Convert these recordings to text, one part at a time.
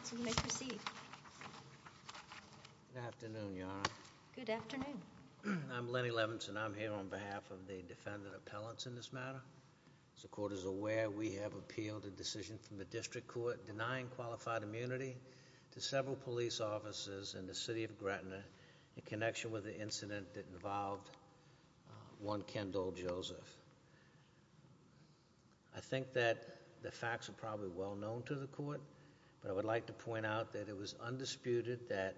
Good afternoon, Your Honor. Good afternoon. I'm Lenny Levinson. I'm here on behalf of the defendant appellants in this matter. As the court is aware, we have appealed a decision from the district court denying qualified immunity to several police officers in the I think that the facts are probably well known to the court, but I would like to point out that it was undisputed that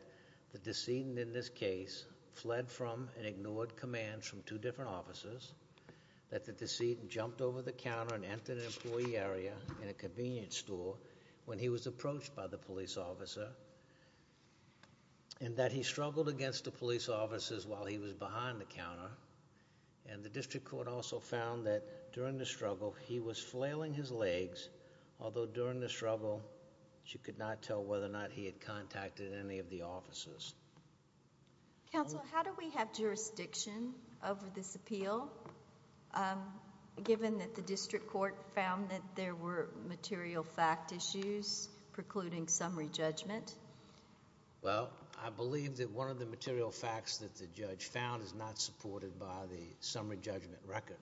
the decedent in this case fled from and ignored commands from two different officers, that the decedent jumped over the counter and entered an employee area in a convenience store when he was approached by the police officer, and that he struggled against the police officers while he was behind the counter. And the district court also found that during the struggle, he was flailing his legs, although during the struggle, you could not tell whether or not he had contacted any of the officers. Counsel, how do we have jurisdiction over this appeal, given that the district court found that there were material fact issues precluding summary judgment? Well, I believe that one of the material facts that the judge found is not supported by the summary judgment record.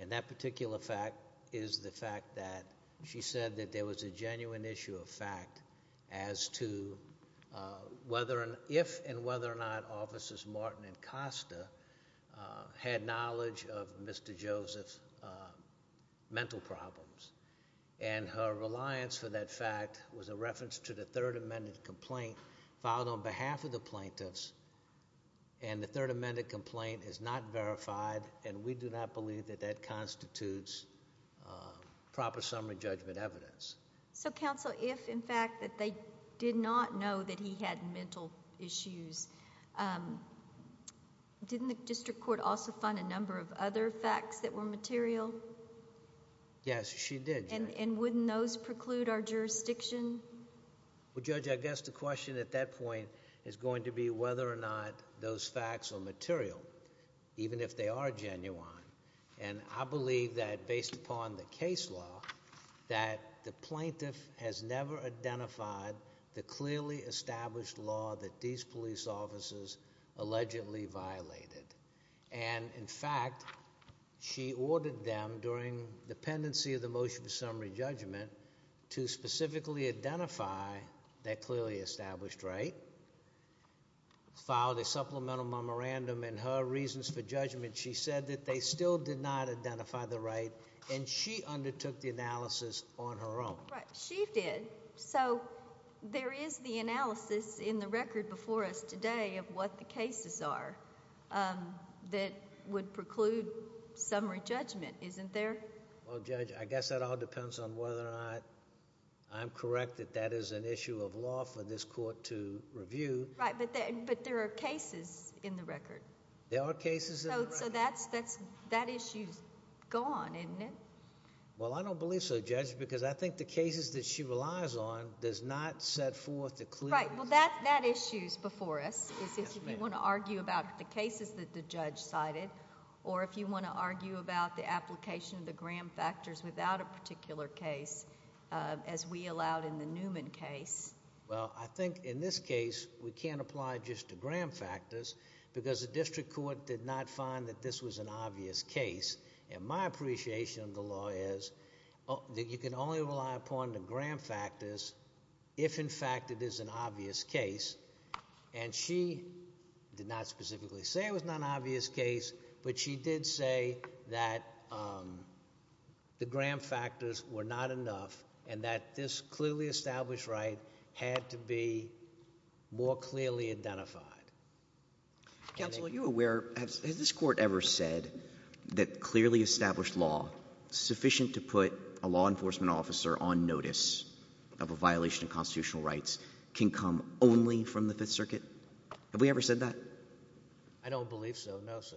And that particular fact is the fact that she said that there was a genuine issue of fact as to whether and if and whether or not officers Martin and Costa had knowledge of Mr. Joseph's mental problems. And her reliance for that fact was a reference to the third amended complaint filed on behalf of the plaintiffs, and the third amended complaint is not verified, and we do not believe that that constitutes proper summary judgment evidence. So, counsel, if in fact that they did not know that he had mental issues, didn't the district court also find a number of other facts that were material? Yes, she did. And wouldn't those preclude our jurisdiction? Well, Judge, I guess the question at that point is going to be whether or not those facts are material, even if they are genuine. And I believe that based upon the case law, that the plaintiff has never identified the clearly established law that these police officers allegedly violated. And in fact, she ordered them during the pendency of the motion for summary judgment to specifically identify that clearly established right, filed a supplemental memorandum, and her reasons for judgment, she said that they still did not identify the right, and she undertook the analysis on her own. Right, she did. So, there is the analysis in the record before us today of what the cases are that would have to be reviewed. I guess that all depends on whether or not I'm correct that that is an issue of law for this court to review. Right, but there are cases in the record. There are cases in the record. So, that issue's gone, isn't it? Well, I don't believe so, Judge, because I think the cases that she relies on does not set forth a clear... Right, well, that issue's before us, is if you want to argue about the cases that the judge cited, or if you want to argue about the application of the gram factors without a particular case, as we allowed in the Newman case. Well, I think in this case, we can't apply just the gram factors, because the district court did not find that this was an obvious case, and my appreciation of the law is that you can only rely upon the gram factors if, in fact, it is an obvious case, and she did not specifically say it was not an obvious case, but she did say that the gram factors were not enough, and that this clearly established right had to be more clearly identified. Counsel, are you aware, has this court ever said that clearly established law is sufficient to put a law enforcement officer on notice of a violation of constitutional rights can come only from the Fifth Circuit? Have we ever said that? I don't believe so, no, sir.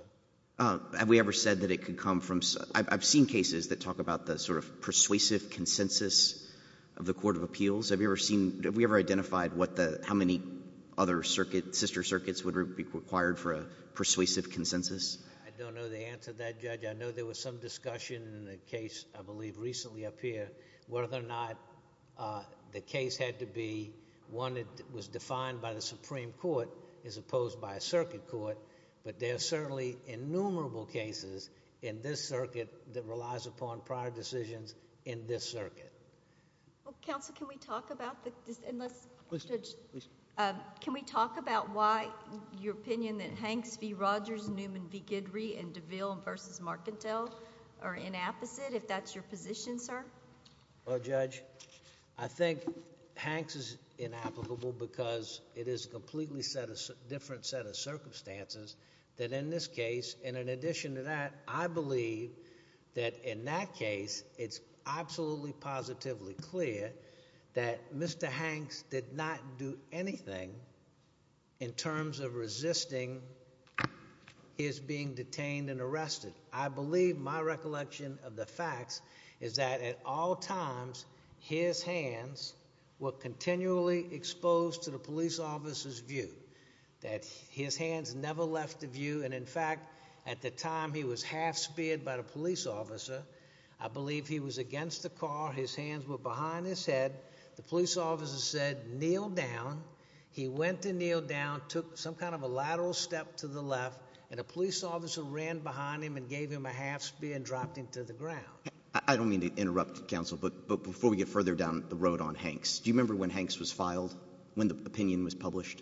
Have we ever said that it could come from... I've seen cases that talk about the sort of persuasive consensus of the Court of Appeals. Have we ever seen, have we ever identified what the, how many other circuit, sister circuits would be required for a persuasive consensus? I don't know the answer to that, Judge. I know there was some discussion in a case, I believe, recently up here, whether or not the case had to be one that was defined by the Supreme Court as opposed by a circuit court, but there are certainly innumerable cases in this circuit that relies upon prior decisions in this circuit. Counsel, can we talk about the, unless... Please, Judge. Can we talk about why your opinion that Hanks v. Rogers, Newman v. Guidry, and DeVille v. Marcantel are inapposite, if that's your position, sir? Well, Judge, I think Hanks is inapplicable because it is a completely set of, different set of circumstances that in this case, and in addition to that, I believe that in that case, it's absolutely positively clear that Mr. Hanks did not do anything in terms of resisting his being detained and arrested. I believe my recollection of the facts is that at all times, his hands were continually exposed to the police officer's view, that his hands never left the view, and in fact, at the time he was half-speared by the police officer, I believe he was against the car, his hands were behind his head, the police officer said, kneel down, he went to kneel down, took some kind of a lateral step to the left, and a police officer ran behind him and gave him a half-spear and dropped him to the ground. I don't mean to interrupt, Counsel, but before we get further down the road on Hanks, do you remember when Hanks was filed, when the opinion was published?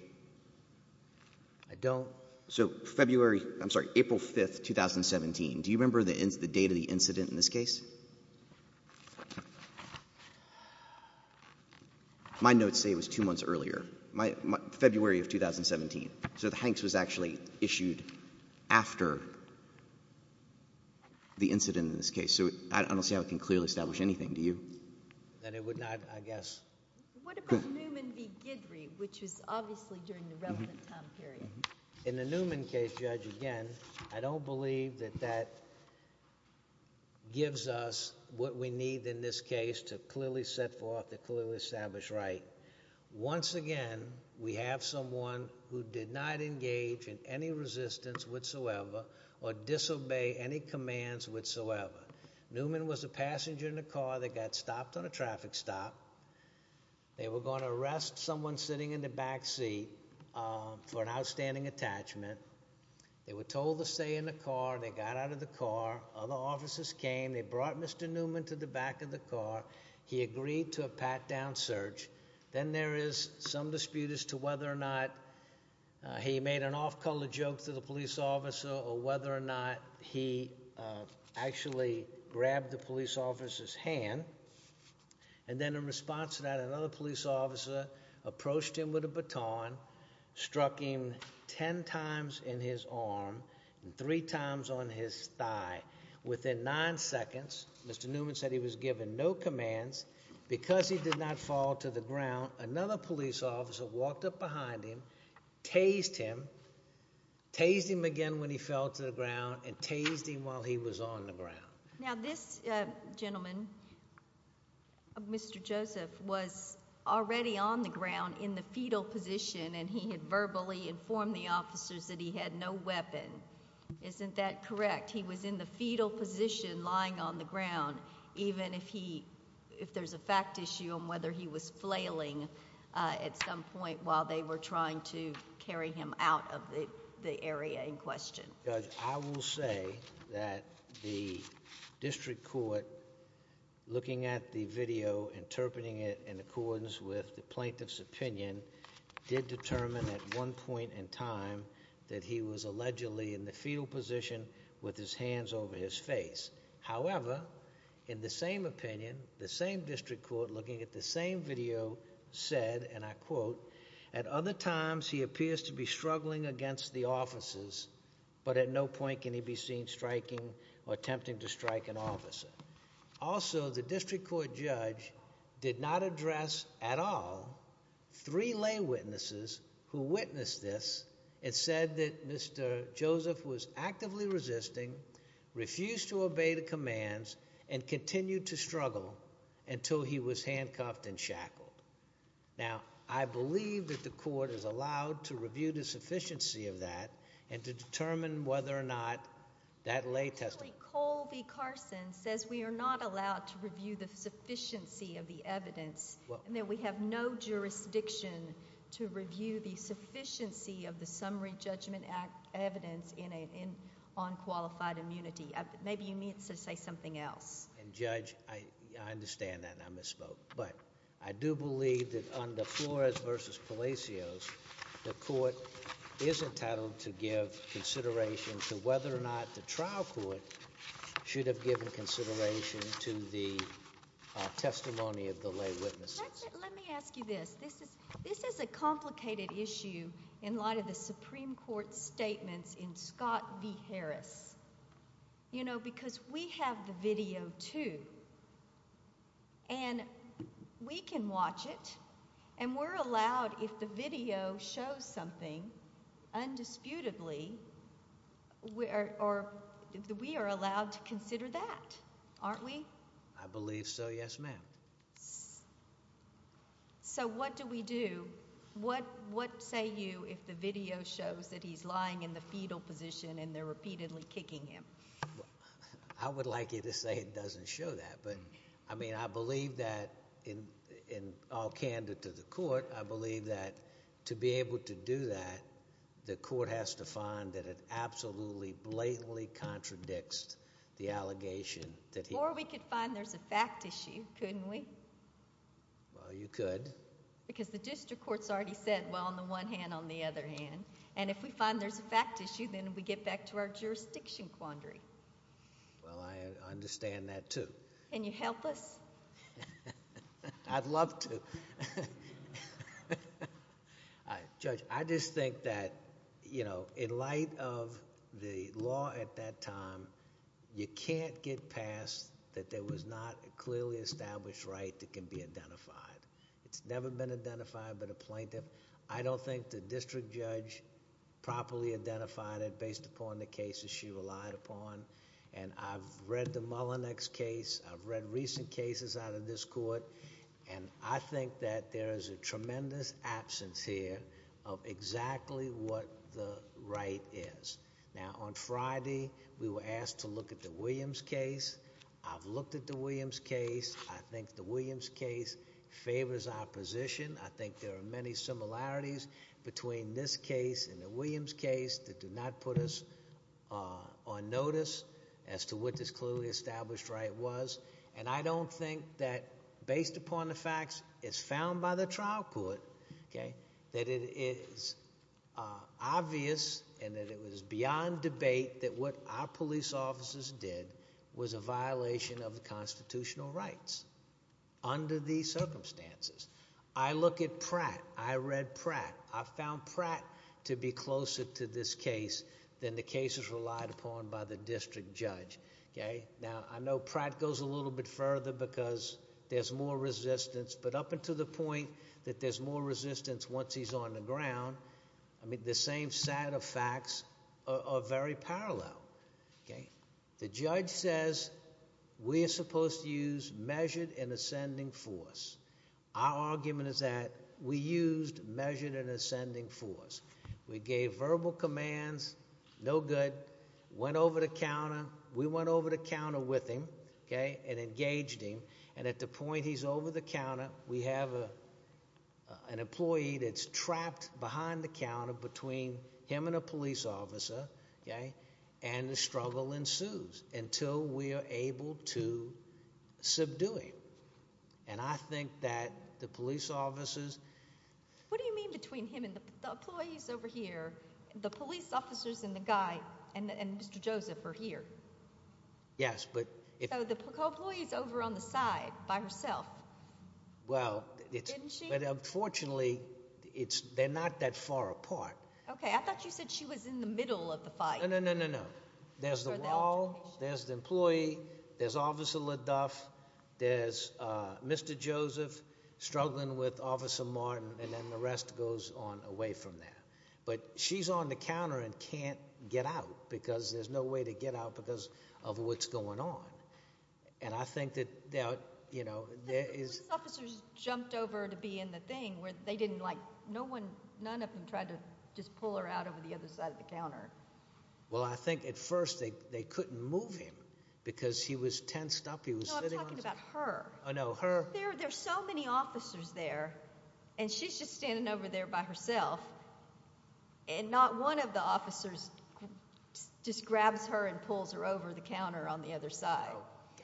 I don't. So February — I'm sorry, April 5th, 2017, do you remember the date of the incident in this case? My notes say it was two months earlier, February of 2017. So Hanks was actually issued after the incident in this case. So I don't see how it can clearly establish anything, do you? That it would not, I guess. What about Newman v. Guidry, which was obviously during the relevant time period? In the Newman case, Judge, again, I don't believe that that gives us what we need in this case to clearly set forth and clearly establish right. Once again, we have someone who did not engage in any resistance whatsoever or disobey any commands whatsoever. Newman was a passenger in a car that got stopped on a traffic stop. They were going to arrest someone sitting in the back seat for an outstanding attachment. They were told to stay in the car. They got out of the car. Other officers came. They brought Mr. Newman to the back of the car. He agreed to a pat-down search. Then there is some dispute as to whether or not he made an off-color joke to the police officer or whether or not he actually grabbed the police officer's hand. And then in response to that, another police officer approached him with a baton, struck him 10 times in his arm and 3 times on his thigh. Within 9 seconds, Mr. Newman said he was given no commands. Because he did not fall to the ground, another police officer walked up behind him, tased him, tased him again when he fell to the ground and tased him while he was on the ground. Now this gentleman, Mr. Joseph, was already on the ground in the fetal position and he had verbally informed the officers that he had no weapon. Isn't that correct? He was in the fetal position lying on the ground even if there is a fact issue on whether he was flailing at some point while they were trying to carry him out of the area in question. Judge, I will say that the district court, looking at the video, interpreting it in accordance with the plaintiff's opinion, did determine at one point in time that he was allegedly in the fetal position with his hands over his face. However, in the same opinion, the same video said, and I quote, at other times he appears to be struggling against the officers but at no point can he be seen striking or attempting to strike an officer. Also the district court judge did not address at all 3 lay witnesses who witnessed this and said that Mr. Joseph was actively resisting, refused to obey the commands and continued to struggle until he was handcuffed and shackled. Now, I believe that the court is allowed to review the sufficiency of that and to determine whether or not that lay testimony Actually, Cole v. Carson says we are not allowed to review the sufficiency of the evidence and that we have no jurisdiction to review the sufficiency of the Summary Judgment Act evidence on qualified immunity. Maybe you need to say something else. And Judge, I understand that and I misspoke, but I do believe that under Flores v. Palacios, the court is entitled to give consideration to whether or not the trial court should have given consideration to the testimony of the lay witnesses. Let me ask you this. This is a complicated issue in light of the Supreme Court's statements in Scott v. Harris. You know, because we have the video, too, and we can watch it, and we're allowed if the video shows something, undisputedly, we are allowed to consider that, aren't we? I believe so, yes, ma'am. So what do we do? What say you if the video shows that he's lying in the fetal position and they're repeatedly kicking him? I would like you to say it doesn't show that, but, I mean, I believe that, in all candor to the court, I believe that to be able to do that, the court has to find that it absolutely, blatantly contradicts the allegation that he... Or we could find there's a fact issue, couldn't we? Well, you could. Because the district court's already said, well, on the one hand, on the other hand, and if we find there's a fact issue, then we get back to our jurisdiction quandary. Well, I understand that, too. Can you help us? I'd love to. Judge, I just think that, you know, in light of the law at that time, you can't get past that there was not a clearly established right that can be identified. It's never been identified by the plaintiff. I don't think the district judge properly identified it based upon the cases she relied upon, and I've read the Mullinex case, I've read recent cases out of this court, and I think that there is a tremendous absence here of exactly what the right is. Now, on Friday, we were asked to look at the Williams case. I've looked at the Williams case. I think the Williams case favors our position. I think there are many similarities between this case and the Williams case that do not put us on notice as to what this clearly established right was, and I don't think that, based upon the facts as found by the trial court, that it is obvious and that it was beyond debate that what our police officers did was a violation of the constitutional rights under these circumstances. I look at Pratt. I read Pratt. I found Pratt to be closer to this case than the cases relied upon by the district judge. Now, I know Pratt goes a little bit further because there's more resistance, but up until the point that there's more resistance once he's on the ground, the same set of facts are very parallel. The judge says we are supposed to use measured and ascending force. Our argument is that we used measured and ascending force. We gave verbal commands. No good. Went over the counter. We went over the counter with him and engaged him, and at the point he's over the counter, we have an employee that's trapped behind the counter between him and a police officer, and the struggle ensues until we are able to subdue him. And I think that the police officers— What do you mean between him and the employees over here, the police officers and the guy and Mr. Joseph are here? Yes, but— So the co-employee is over on the side by herself, didn't she? Well, but unfortunately they're not that far apart. Okay, I thought you said she was in the middle of the fight. No, no, no, no, no. There's the wall. There's the employee. There's Officer LeDuff. There's Mr. Joseph struggling with Officer Martin, and then the rest goes on away from there. But she's on the counter and can't get out because there's no way to get out because of what's going on. And I think that, you know, there is— Police officers jumped over to be in the thing where they didn't like— none of them tried to just pull her out over the other side of the counter. Well, I think at first they couldn't move him because he was tensed up. He was sitting on— No, I'm talking about her. Oh, no, her? There are so many officers there, and she's just standing over there by herself, and not one of the officers just grabs her and pulls her over the counter on the other side.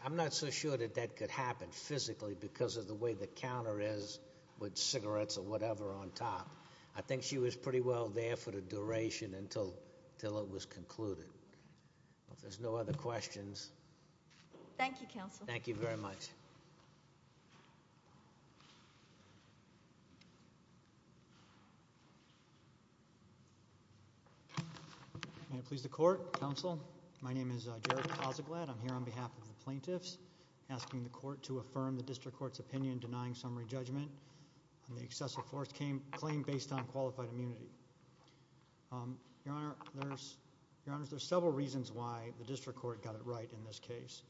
I'm not so sure that that could happen physically because of the way the counter is with cigarettes or whatever on top. I think she was pretty well there for the duration until it was concluded. If there's no other questions— Thank you, Counsel. Thank you very much. Thank you. May it please the Court, Counsel. My name is Jared Cossaglad. I'm here on behalf of the plaintiffs asking the Court to affirm the District Court's opinion denying summary judgment on the excessive force claim based on qualified immunity. Your Honor, there's several reasons why the District Court got it right in this case.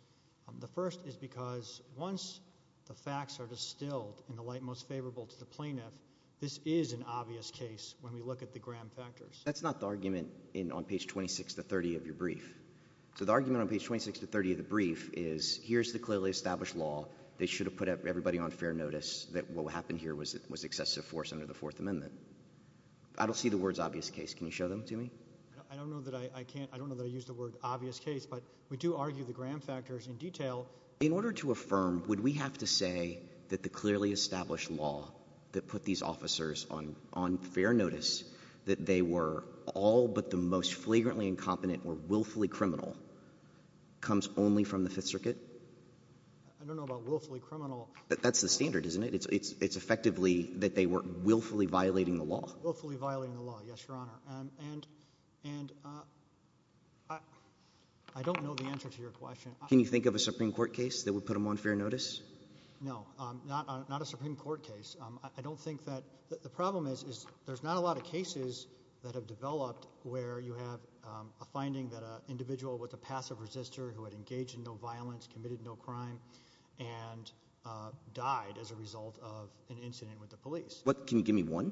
The first is because once the facts are distilled in the light most favorable to the plaintiff, this is an obvious case when we look at the Graham factors. That's not the argument on page 26 to 30 of your brief. So the argument on page 26 to 30 of the brief is here's the clearly established law. They should have put everybody on fair notice that what happened here was excessive force under the Fourth Amendment. I don't see the words obvious case. Can you show them to me? I don't know that I use the word obvious case, but we do argue the Graham factors in detail. In order to affirm, would we have to say that the clearly established law that put these officers on fair notice, that they were all but the most flagrantly incompetent or willfully criminal, comes only from the Fifth Circuit? I don't know about willfully criminal. That's the standard, isn't it? It's effectively that they were willfully violating the law. Willfully violating the law, yes, Your Honor. And I don't know the answer to your question. Can you think of a Supreme Court case that would put them on fair notice? No, not a Supreme Court case. I don't think that the problem is there's not a lot of cases that have developed where you have a finding that an individual with a passive resistor who had engaged in no violence, committed no crime, and died as a result of an incident with the police. Can you give me one?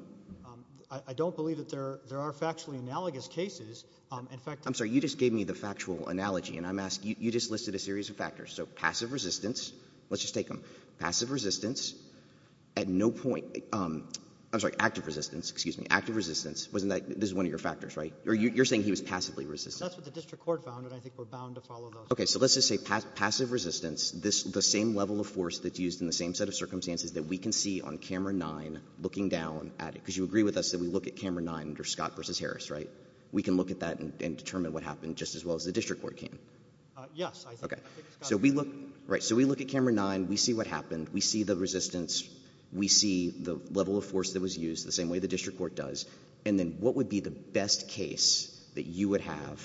I don't believe that there are factually analogous cases. In fact — I'm sorry. You just gave me the factual analogy, and I'm asking — you just listed a series of factors. So passive resistance, let's just take them. Passive resistance, at no point — I'm sorry, active resistance. Excuse me. Active resistance. Wasn't that — this is one of your factors, right? You're saying he was passively resistant. That's what the district court found, and I think we're bound to follow those. Okay. So let's just say passive resistance, the same level of force that's used in the same set of circumstances that we can see on Camera 9, looking down at it, because you agree with us that we look at Camera 9 under Scott v. Harris, right? We can look at that and determine what happened just as well as the district court can? Yes. Okay. So we look — right. So we look at Camera 9. We see what happened. We see the resistance. We see the level of force that was used, the same way the district court does. And then what would be the best case that you would have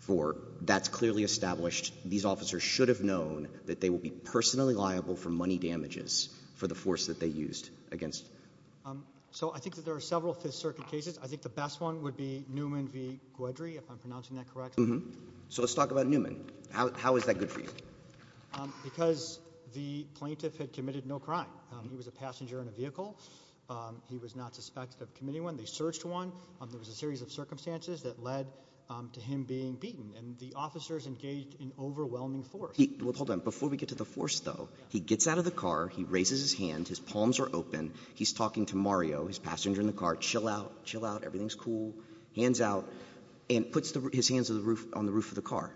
for that's clearly established, these officers should have known that they will be personally liable for money damages for the force that they used against them? So I think that there are several Fifth Circuit cases. I think the best one would be Newman v. Guedry, if I'm pronouncing that correctly. So let's talk about Newman. How is that good for you? Because the plaintiff had committed no crime. He was a passenger in a vehicle. He was not suspected of committing one. They searched one. There was a series of circumstances that led to him being beaten. And the officers engaged in overwhelming force. Well, hold on. Before we get to the force, though, he gets out of the car. He raises his hand. His palms are open. He's talking to Mario, his passenger in the car. Chill out. Chill out. Everything's cool. Hands out. And puts his hands on the roof of the car.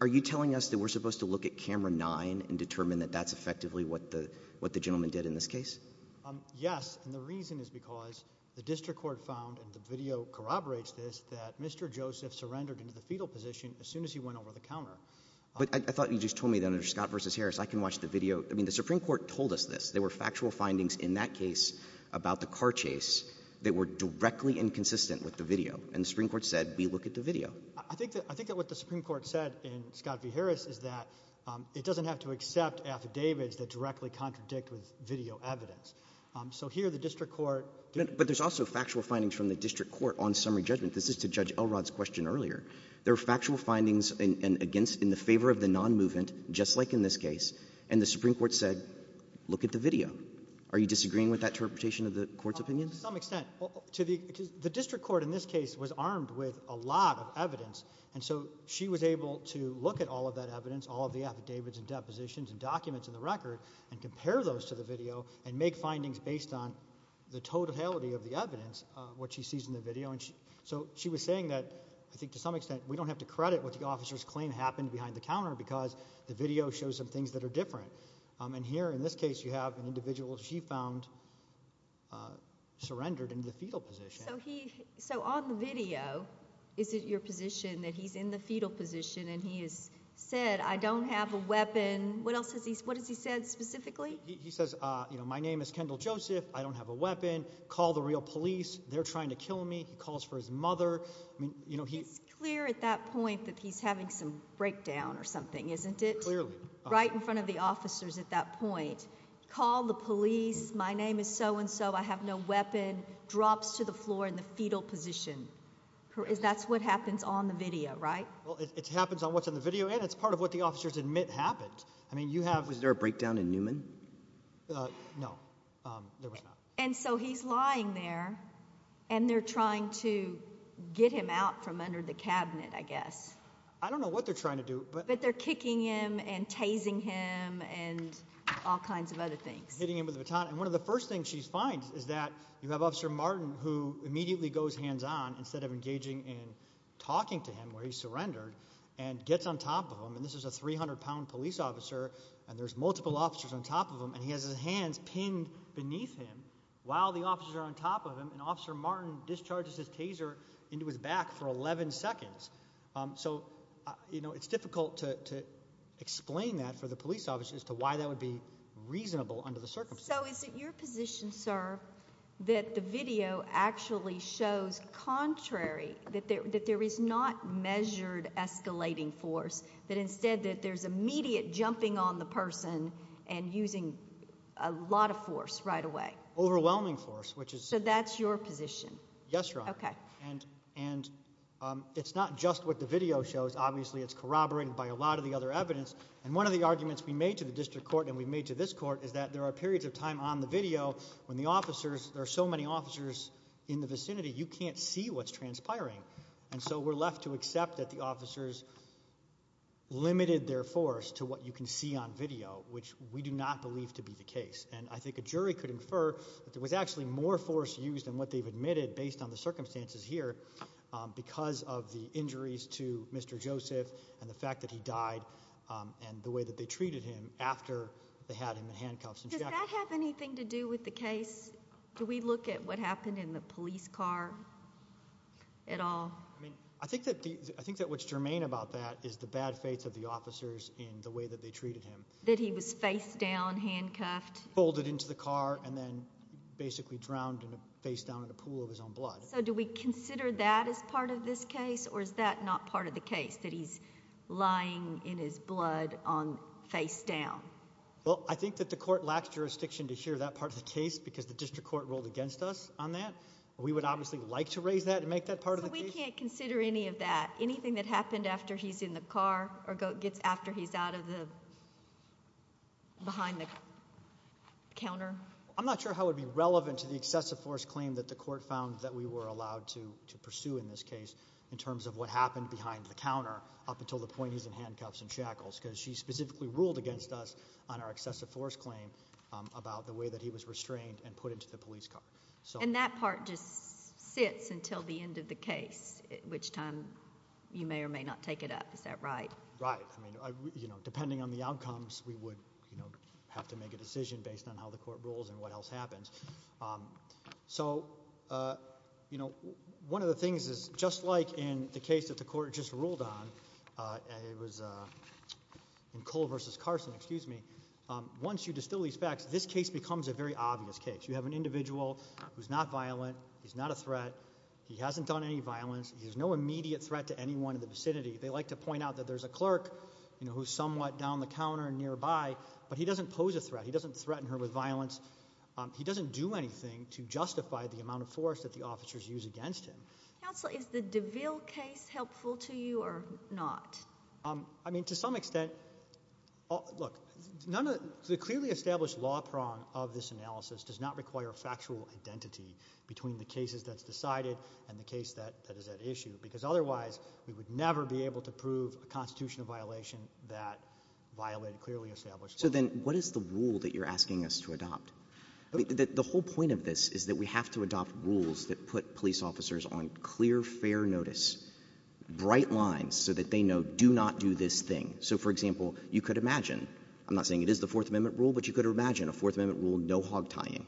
Are you telling us that we're supposed to look at Camera 9 and determine that that's effectively what the gentleman did in this case? Yes. And the reason is because the district court found, and the video corroborates this, that Mr. Joseph surrendered into the fetal position as soon as he went over the counter. But I thought you just told me that under Scott v. Harris I can watch the video. I mean, the Supreme Court told us this. There were factual findings in that case about the car chase that were directly inconsistent with the video. And the Supreme Court said we look at the video. I think that what the Supreme Court said in Scott v. Harris is that it doesn't have to accept affidavits that directly contradict with video evidence. So here the district court ---- But there's also factual findings from the district court on summary judgment. This is to Judge Elrod's question earlier. There are factual findings in the favor of the nonmovement, just like in this case, and the Supreme Court said look at the video. Are you disagreeing with that interpretation of the court's opinion? To some extent. The district court in this case was armed with a lot of evidence, and so she was able to look at all of that evidence, all of the affidavits and depositions and documents in the record, and compare those to the video and make findings based on the totality of the evidence, what she sees in the video. So she was saying that I think to some extent we don't have to credit what the officer's claim happened behind the counter because the video shows some things that are different. And here in this case you have an individual she found surrendered in the fetal position. So on the video, is it your position that he's in the fetal position and he has said I don't have a weapon? What else has he said specifically? He says my name is Kendall Joseph. I don't have a weapon. Call the real police. They're trying to kill me. He calls for his mother. It's clear at that point that he's having some breakdown or something, isn't it? Clearly. Right in front of the officers at that point. Call the police. My name is so-and-so. I have no weapon. Drops to the floor in the fetal position. That's what happens on the video, right? Well, it happens on what's on the video, and it's part of what the officers admit happened. Was there a breakdown in Newman? No, there was not. And so he's lying there, and they're trying to get him out from under the cabinet, I guess. I don't know what they're trying to do. But they're kicking him and tasing him and all kinds of other things. Hitting him with a baton. And one of the first things she finds is that you have Officer Martin who immediately goes hands-on instead of engaging in talking to him, where he surrendered, and gets on top of him. And this is a 300-pound police officer, and there's multiple officers on top of him, and he has his hands pinned beneath him while the officers are on top of him, and Officer Martin discharges his taser into his back for 11 seconds. So, you know, it's difficult to explain that for the police officer as to why that would be reasonable under the circumstances. So is it your position, sir, that the video actually shows contrary, that there is not measured escalating force, that instead there's immediate jumping on the person and using a lot of force right away? Overwhelming force. So that's your position? Yes, Your Honor. Okay. And it's not just what the video shows. Obviously, it's corroborated by a lot of the other evidence. And one of the arguments we made to the district court and we made to this court is that there are periods of time on the video when the officers, there are so many officers in the vicinity, you can't see what's transpiring. And so we're left to accept that the officers limited their force to what you can see on video, which we do not believe to be the case. And I think a jury could infer that there was actually more force used than what they've admitted based on the circumstances here because of the injuries to Mr. Joseph and the fact that he died and the way that they treated him after they had him in handcuffs. Does that have anything to do with the case? Do we look at what happened in the police car at all? I think that what's germane about that is the bad faith of the officers in the way that they treated him. That he was face down, handcuffed. Folded into the car and then basically drowned face down in a pool of his own blood. So do we consider that as part of this case or is that not part of the case, that he's lying in his blood face down? Well, I think that the court lacks jurisdiction to share that part of the case because the district court ruled against us on that. We would obviously like to raise that and make that part of the case. But we can't consider any of that. Anything that happened after he's in the car or gets after he's behind the counter? I'm not sure how it would be relevant to the excessive force claim that the court found that we were allowed to pursue in this case in terms of what happened behind the counter up until the point he's in handcuffs and shackles because she specifically ruled against us on our excessive force claim about the way that he was restrained and put into the police car. And that part just sits until the end of the case, at which time you may or may not take it up. Is that right? Right. I mean, depending on the outcomes, we would have to make a decision based on how the court rules and what else happens. So one of the things is just like in the case that the court just ruled on, it was in Cole v. Carson, excuse me. Once you distill these facts, this case becomes a very obvious case. You have an individual who's not violent. He's not a threat. He hasn't done any violence. He's no immediate threat to anyone in the vicinity. They like to point out that there's a clerk who's somewhat down the counter and nearby, but he doesn't pose a threat. He doesn't threaten her with violence. He doesn't do anything to justify the amount of force that the officers use against him. Counsel, is the DeVille case helpful to you or not? I mean, to some extent. Look, the clearly established law prong of this analysis does not require factual identity between the cases that's decided and the case that is at issue, because otherwise we would never be able to prove a constitutional violation that violated clearly established law. So then what is the rule that you're asking us to adopt? The whole point of this is that we have to adopt rules that put police officers on clear, fair notice, bright lines so that they know do not do this thing. So, for example, you could imagine. I'm not saying it is the Fourth Amendment rule, but you could imagine a Fourth Amendment rule, no hog tying.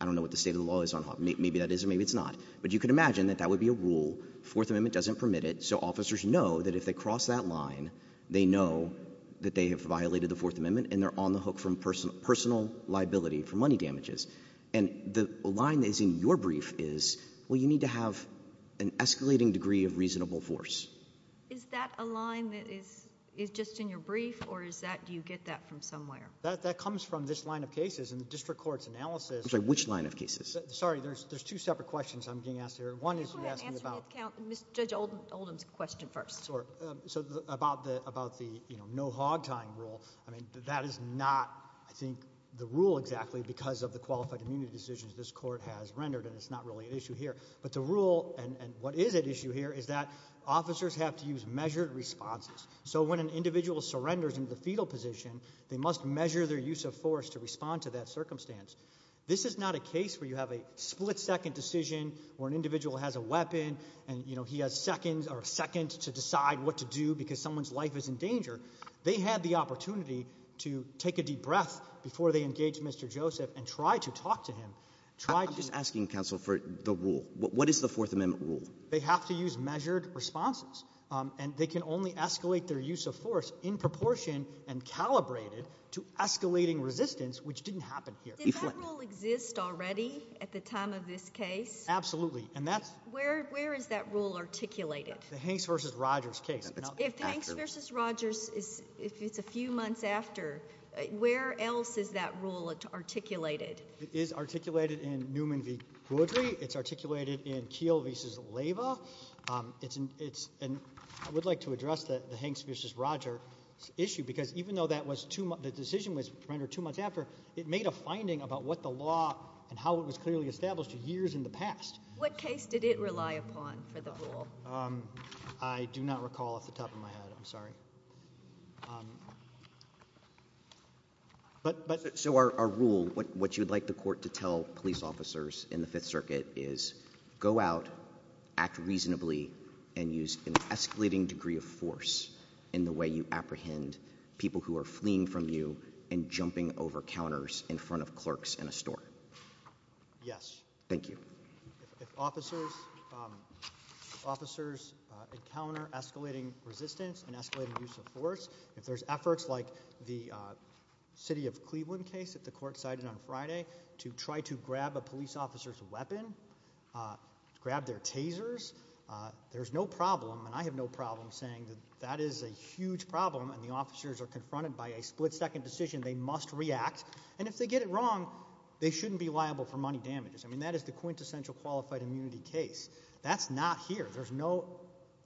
I don't know what the state of the law is on hogs. Maybe that is or maybe it's not. But you could imagine that that would be a rule. Fourth Amendment doesn't permit it. So officers know that if they cross that line, they know that they have violated the Fourth Amendment and they're on the hook from personal liability for money damages. And the line that is in your brief is, well, you need to have an escalating degree of reasonable force. Is that a line that is just in your brief or do you get that from somewhere? That comes from this line of cases in the district court's analysis. I'm sorry, which line of cases? Sorry, there's two separate questions I'm getting asked here. One is you're asking about— Go ahead and answer Judge Oldham's question first. Sure. So about the no hog tying rule, I mean, that is not, I think, the rule exactly because of the qualified immunity decisions this court has rendered and it's not really an issue here. But the rule and what is at issue here is that officers have to use measured responses. So when an individual surrenders into the fetal position, they must measure their use of force to respond to that circumstance. This is not a case where you have a split-second decision where an individual has a weapon and he has seconds to decide what to do because someone's life is in danger. They had the opportunity to take a deep breath before they engaged Mr. Joseph and try to talk to him. I'm just asking, counsel, for the rule. What is the Fourth Amendment rule? They have to use measured responses, and they can only escalate their use of force in proportion and calibrated to escalating resistance, which didn't happen here. Did that rule exist already at the time of this case? Absolutely. Where is that rule articulated? The Hanks v. Rogers case. If Hanks v. Rogers is a few months after, where else is that rule articulated? It is articulated in Newman v. Goodrie. It's articulated in Keele v. Leyva. I would like to address the Hanks v. Rogers issue because even though the decision was rendered two months after, it made a finding about what the law and how it was clearly established years in the past. What case did it rely upon for the rule? I do not recall off the top of my head. I'm sorry. So our rule, what you would like the court to tell police officers in the Fifth Circuit is go out, act reasonably, and use an escalating degree of force in the way you apprehend people who are fleeing from you and jumping over counters in front of clerks in a store. Yes. Thank you. If officers encounter escalating resistance and escalating use of force, if there's efforts like the city of Cleveland case that the court cited on Friday to try to grab a police officer's weapon, grab their tasers, there's no problem, and I have no problem saying that that is a huge problem and the officers are confronted by a split-second decision they must react. And if they get it wrong, they shouldn't be liable for money damages. I mean, that is the quintessential qualified immunity case. That's not here. There's no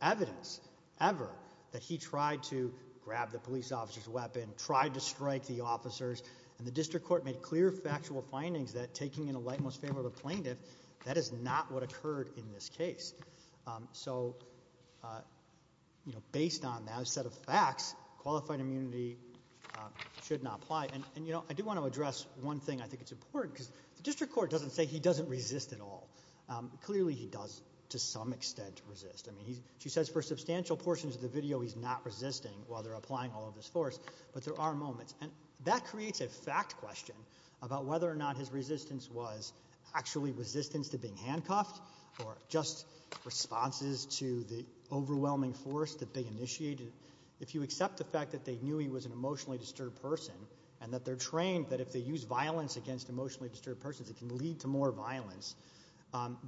evidence ever that he tried to grab the police officer's weapon, tried to strike the officers, and the district court made clear factual findings that taking in a light most favorable plaintiff, that is not what occurred in this case. So, you know, based on that set of facts, qualified immunity should not apply. And, you know, I do want to address one thing I think is important, because the district court doesn't say he doesn't resist at all. Clearly he does to some extent resist. I mean, she says for substantial portions of the video he's not resisting while they're applying all of this force, but there are moments, and that creates a fact question about whether or not his resistance was actually resistance to being handcuffed or just responses to the overwhelming force that they initiated. If you accept the fact that they knew he was an emotionally disturbed person and that they're trained that if they use violence against emotionally disturbed persons it can lead to more violence,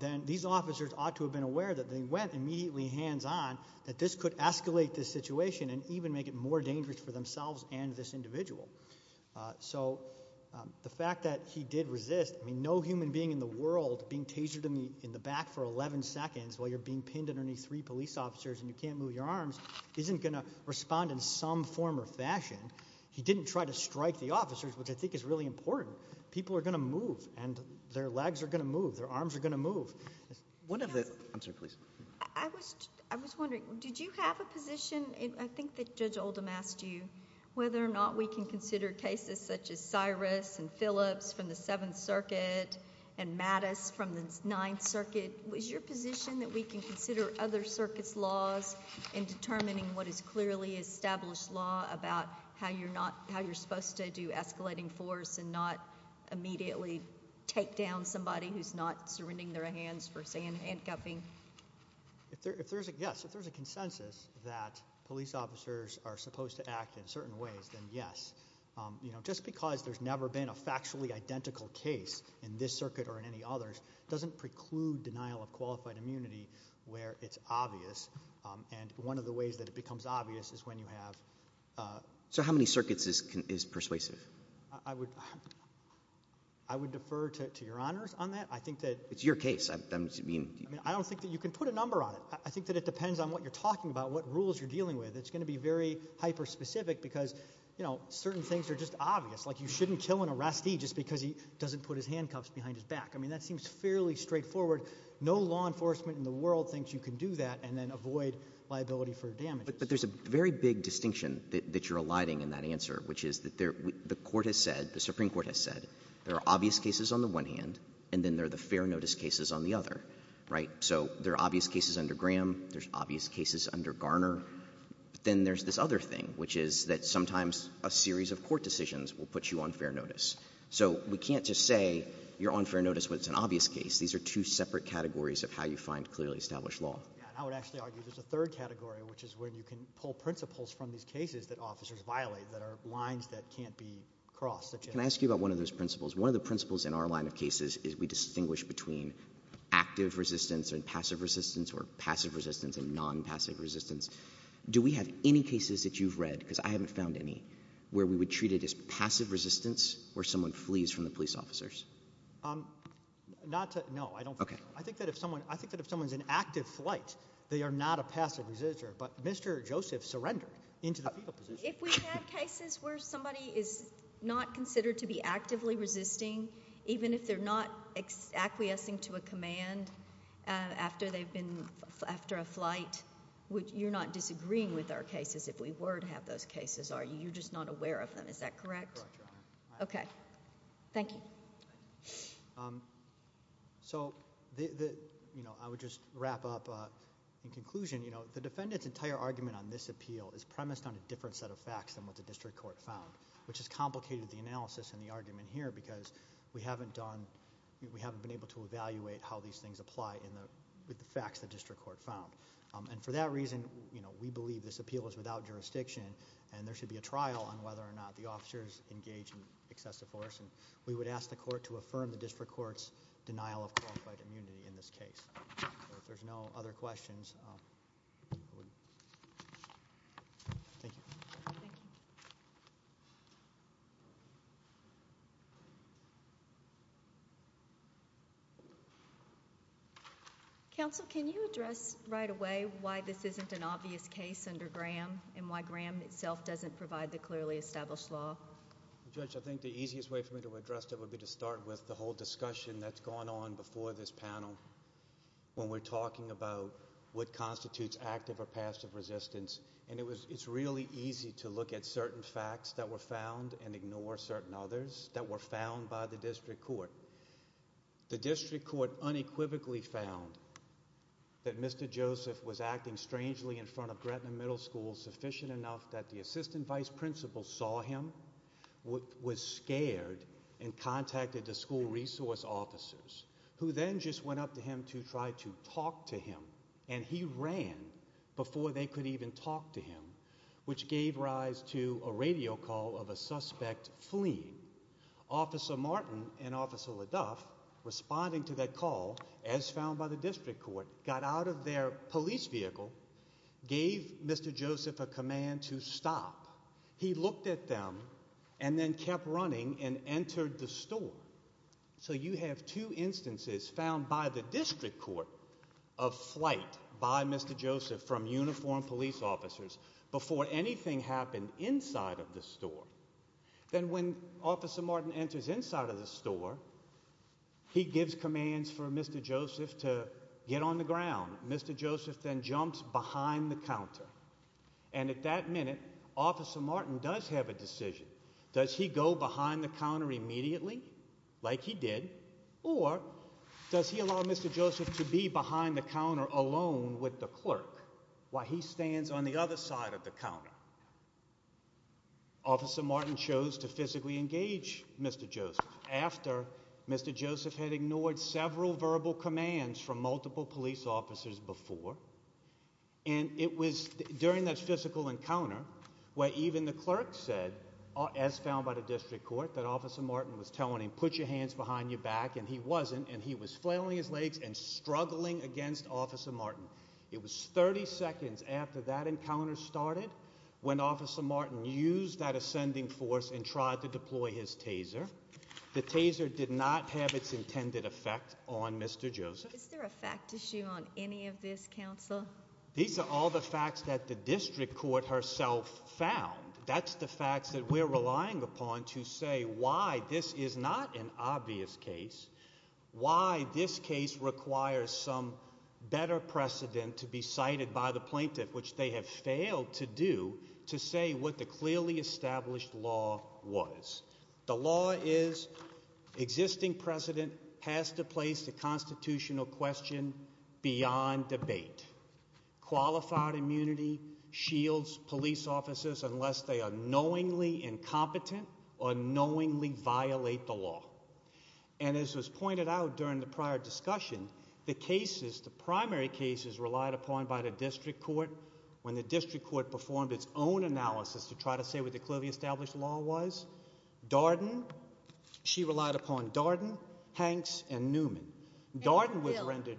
then these officers ought to have been aware that they went immediately hands-on, that this could escalate the situation and even make it more dangerous for themselves and this individual. So the fact that he did resist, I mean, no human being in the world being tasered in the back for 11 seconds while you're being pinned underneath three police officers and you can't move your arms, isn't going to respond in some form or fashion. He didn't try to strike the officers, which I think is really important. People are going to move, and their legs are going to move, their arms are going to move. I was wondering, did you have a position, I think that Judge Oldham asked you, whether or not we can consider cases such as Cyrus and Phillips from the Seventh Circuit and Mattis from the Ninth Circuit, was your position that we can consider other circuits' laws in determining what is clearly established law about how you're supposed to do escalating force and not immediately take down somebody who's not surrendering their hands for handcuffing? If there's a consensus that police officers are supposed to act in certain ways, then yes. Just because there's never been a factually identical case in this circuit or in any others doesn't preclude denial of qualified immunity where it's obvious, and one of the ways that it becomes obvious is when you have... So how many circuits is persuasive? I would defer to your honors on that. It's your case. I don't think that you can put a number on it. I think that it depends on what you're talking about, what rules you're dealing with. It's going to be very hyper-specific because, you know, certain things are just obvious, like you shouldn't kill an arrestee just because he doesn't put his handcuffs behind his back. I mean, that seems fairly straightforward. No law enforcement in the world thinks you can do that and then avoid liability for damage. But there's a very big distinction that you're eliding in that answer, which is that the Supreme Court has said there are obvious cases on the one hand and then there are the fair notice cases on the other, right? So there are obvious cases under Graham. There's obvious cases under Garner. Then there's this other thing, which is that sometimes a series of court decisions will put you on fair notice. So we can't just say you're on fair notice when it's an obvious case. These are two separate categories of how you find clearly established law. Yeah, and I would actually argue there's a third category, which is when you can pull principles from these cases that officers violate that are lines that can't be crossed. Can I ask you about one of those principles? One of the principles in our line of cases is we distinguish between active resistance and passive resistance or passive resistance and non-passive resistance. Do we have any cases that you've read, because I haven't found any, where we would treat it as passive resistance or someone flees from the police officers? Not to—no, I don't think so. Okay. I think that if someone's in active flight, they are not a passive resister, but Mr. Joseph surrendered into the FIBA position. If we've had cases where somebody is not considered to be actively resisting, even if they're not acquiescing to a command after a flight, you're not disagreeing with our cases if we were to have those cases, are you? You're just not aware of them. Is that correct? Correct, Your Honor. Okay. Thank you. So I would just wrap up in conclusion. The defendant's entire argument on this appeal is premised on a different set of facts than what the district court found, which has complicated the analysis and the argument here because we haven't been able to evaluate how these things apply with the facts the district court found. And for that reason, we believe this appeal is without jurisdiction, and there should be a trial on whether or not the officers engaged in excessive force, and we would ask the court to affirm the district court's denial of qualified immunity in this case. If there's no other questions. Thank you. Thank you. Counsel, can you address right away why this isn't an obvious case under Graham and why Graham itself doesn't provide the clearly established law? Judge, I think the easiest way for me to address that would be to start with the whole discussion that's gone on before this panel when we're talking about what constitutes active or passive resistance, and it's really easy to look at certain facts that were found and ignore certain others that were found by the district court. The district court unequivocally found that Mr. Joseph was acting strangely in front of Gretna Middle School sufficient enough that the assistant vice principal saw him, was scared, and contacted the school resource officers, who then just went up to him to try to talk to him, and he ran before they could even talk to him, which gave rise to a radio call of a suspect fleeing. Officer Martin and Officer LaDuff, responding to that call, as found by the district court, got out of their police vehicle, gave Mr. Joseph a command to stop. He looked at them and then kept running and entered the store. So you have two instances found by the district court of flight by Mr. Joseph from uniformed police officers before anything happened inside of the store. Then when Officer Martin enters inside of the store, he gives commands for Mr. Joseph to get on the ground. Mr. Joseph then jumps behind the counter, and at that minute, Officer Martin does have a decision. Does he go behind the counter immediately, like he did, or does he allow Mr. Joseph to be behind the counter alone with the clerk while he stands on the other side of the counter? Officer Martin chose to physically engage Mr. Joseph after Mr. Joseph had ignored several verbal commands from multiple police officers before, and it was during that physical encounter where even the clerk said, as found by the district court, that Officer Martin was telling him, put your hands behind your back, and he wasn't, and he was flailing his legs and struggling against Officer Martin. It was 30 seconds after that encounter started when Officer Martin used that ascending force and tried to deploy his taser. The taser did not have its intended effect on Mr. Joseph. Is there a fact issue on any of this, counsel? These are all the facts that the district court herself found. That's the facts that we're relying upon to say why this is not an obvious case, why this case requires some better precedent to be cited by the plaintiff, which they have failed to do, to say what the clearly established law was. The law is existing precedent has to place the constitutional question beyond debate. Qualified immunity shields police officers unless they are knowingly incompetent or knowingly violate the law. And as was pointed out during the prior discussion, the cases, the primary cases relied upon by the district court when the district court performed its own analysis to try to say what the clearly established law was, Darden, she relied upon Darden, Hanks, and Newman. And DeVille.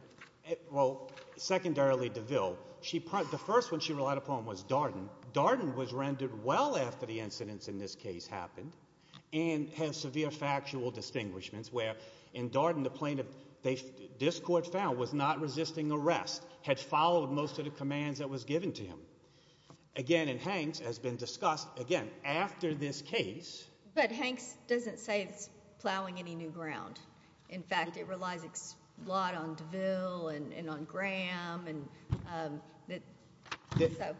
Well, secondarily, DeVille. The first one she relied upon was Darden. Darden was rendered well after the incidents in this case happened and has severe factual distinguishments where in Darden the plaintiff, this court found, was not resisting arrest, had followed most of the commands that was given to him. Again, in Hanks, as has been discussed, again, after this case. But Hanks doesn't say it's plowing any new ground. In fact, it relies a lot on DeVille and on Graham. So,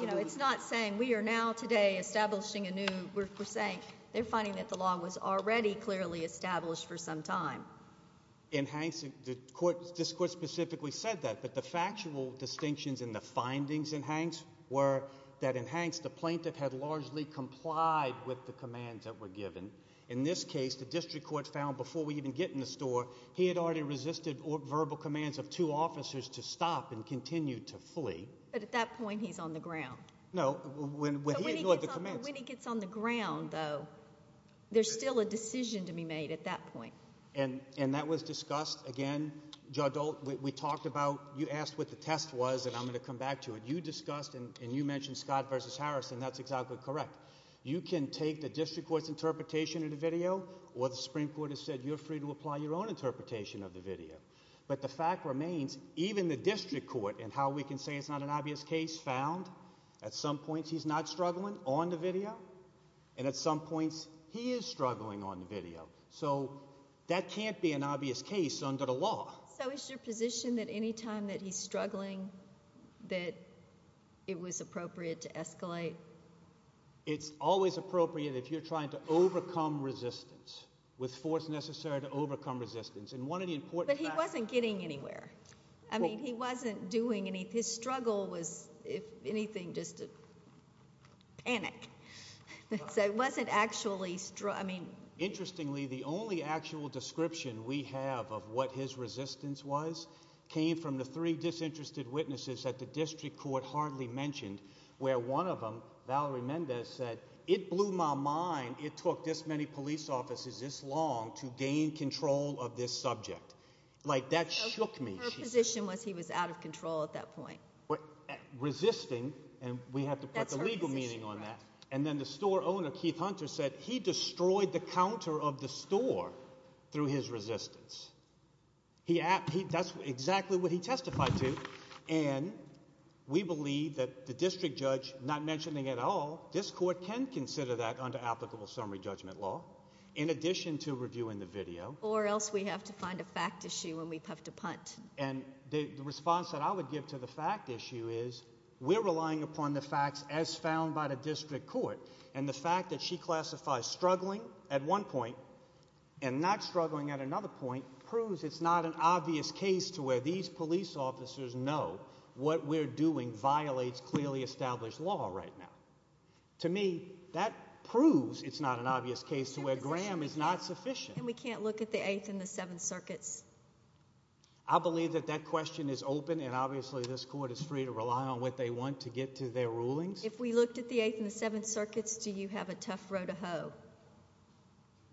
you know, it's not saying we are now today establishing a new, we're saying they're finding that the law was already clearly established for some time. In Hanks, this court specifically said that, but the factual distinctions in the findings in Hanks were that in Hanks the plaintiff had largely complied with the commands that were given. In this case, the district court found before we even get in the store, he had already resisted verbal commands of two officers to stop and continue to flee. But at that point he's on the ground. No, when he ignored the commands. But when he gets on the ground, though, there's still a decision to be made at that point. And that was discussed. Again, Judge Ault, we talked about, you asked what the test was, and I'm going to come back to it. You discussed and you mentioned Scott v. Harrison. That's exactly correct. You can take the district court's interpretation of the video, or the Supreme Court has said you're free to apply your own interpretation of the video. But the fact remains, even the district court in how we can say it's not an obvious case found, at some points he's not struggling on the video, and at some points he is struggling on the video. So that can't be an obvious case under the law. So is your position that any time that he's struggling that it was appropriate to escalate? It's always appropriate if you're trying to overcome resistance, with force necessary to overcome resistance. But he wasn't getting anywhere. I mean he wasn't doing anything. His struggle was, if anything, just a panic. So it wasn't actually – Interestingly, the only actual description we have of what his resistance was came from the three disinterested witnesses that the district court hardly mentioned, where one of them, Valerie Mendez, said, it blew my mind it took this many police officers this long to gain control of this subject. Like that shook me. Her position was he was out of control at that point. Resisting, and we have to put the legal meaning on that. And then the store owner, Keith Hunter, said he destroyed the counter of the store through his resistance. That's exactly what he testified to. And we believe that the district judge not mentioning at all this court can consider that under applicable summary judgment law in addition to reviewing the video. Or else we have to find a fact issue and we have to punt. And the response that I would give to the fact issue is we're relying upon the facts as found by the district court. And the fact that she classifies struggling at one point and not struggling at another point proves it's not an obvious case to where these police officers know what we're doing violates clearly established law right now. To me, that proves it's not an obvious case to where Graham is not sufficient. And we can't look at the Eighth and the Seventh Circuits. I believe that that question is open, and obviously this court is free to rely on what they want to get to their rulings. If we looked at the Eighth and the Seventh Circuits, do you have a tough row to hoe?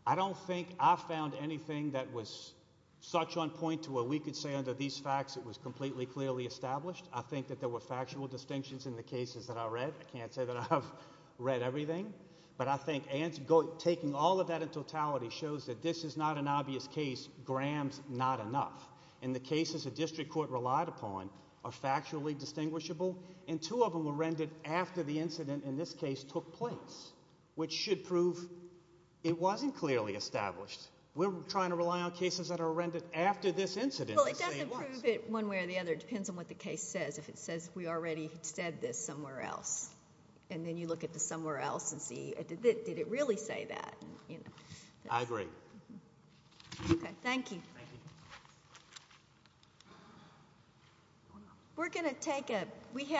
I don't think I found anything that was such on point to where we could say under these facts it was completely clearly established. I think that there were factual distinctions in the cases that I read. I can't say that I have read everything. But I think taking all of that in totality shows that this is not an obvious case. Graham's not enough. And the cases the district court relied upon are factually distinguishable. And two of them were rendered after the incident in this case took place, which should prove it wasn't clearly established. We're trying to rely on cases that are rendered after this incident to say it was. Well, it doesn't prove it one way or the other. It depends on what the case says. If it says we already said this somewhere else, and then you look at the somewhere else and see did it really say that. I agree. Okay, thank you. Thank you. We're going to take a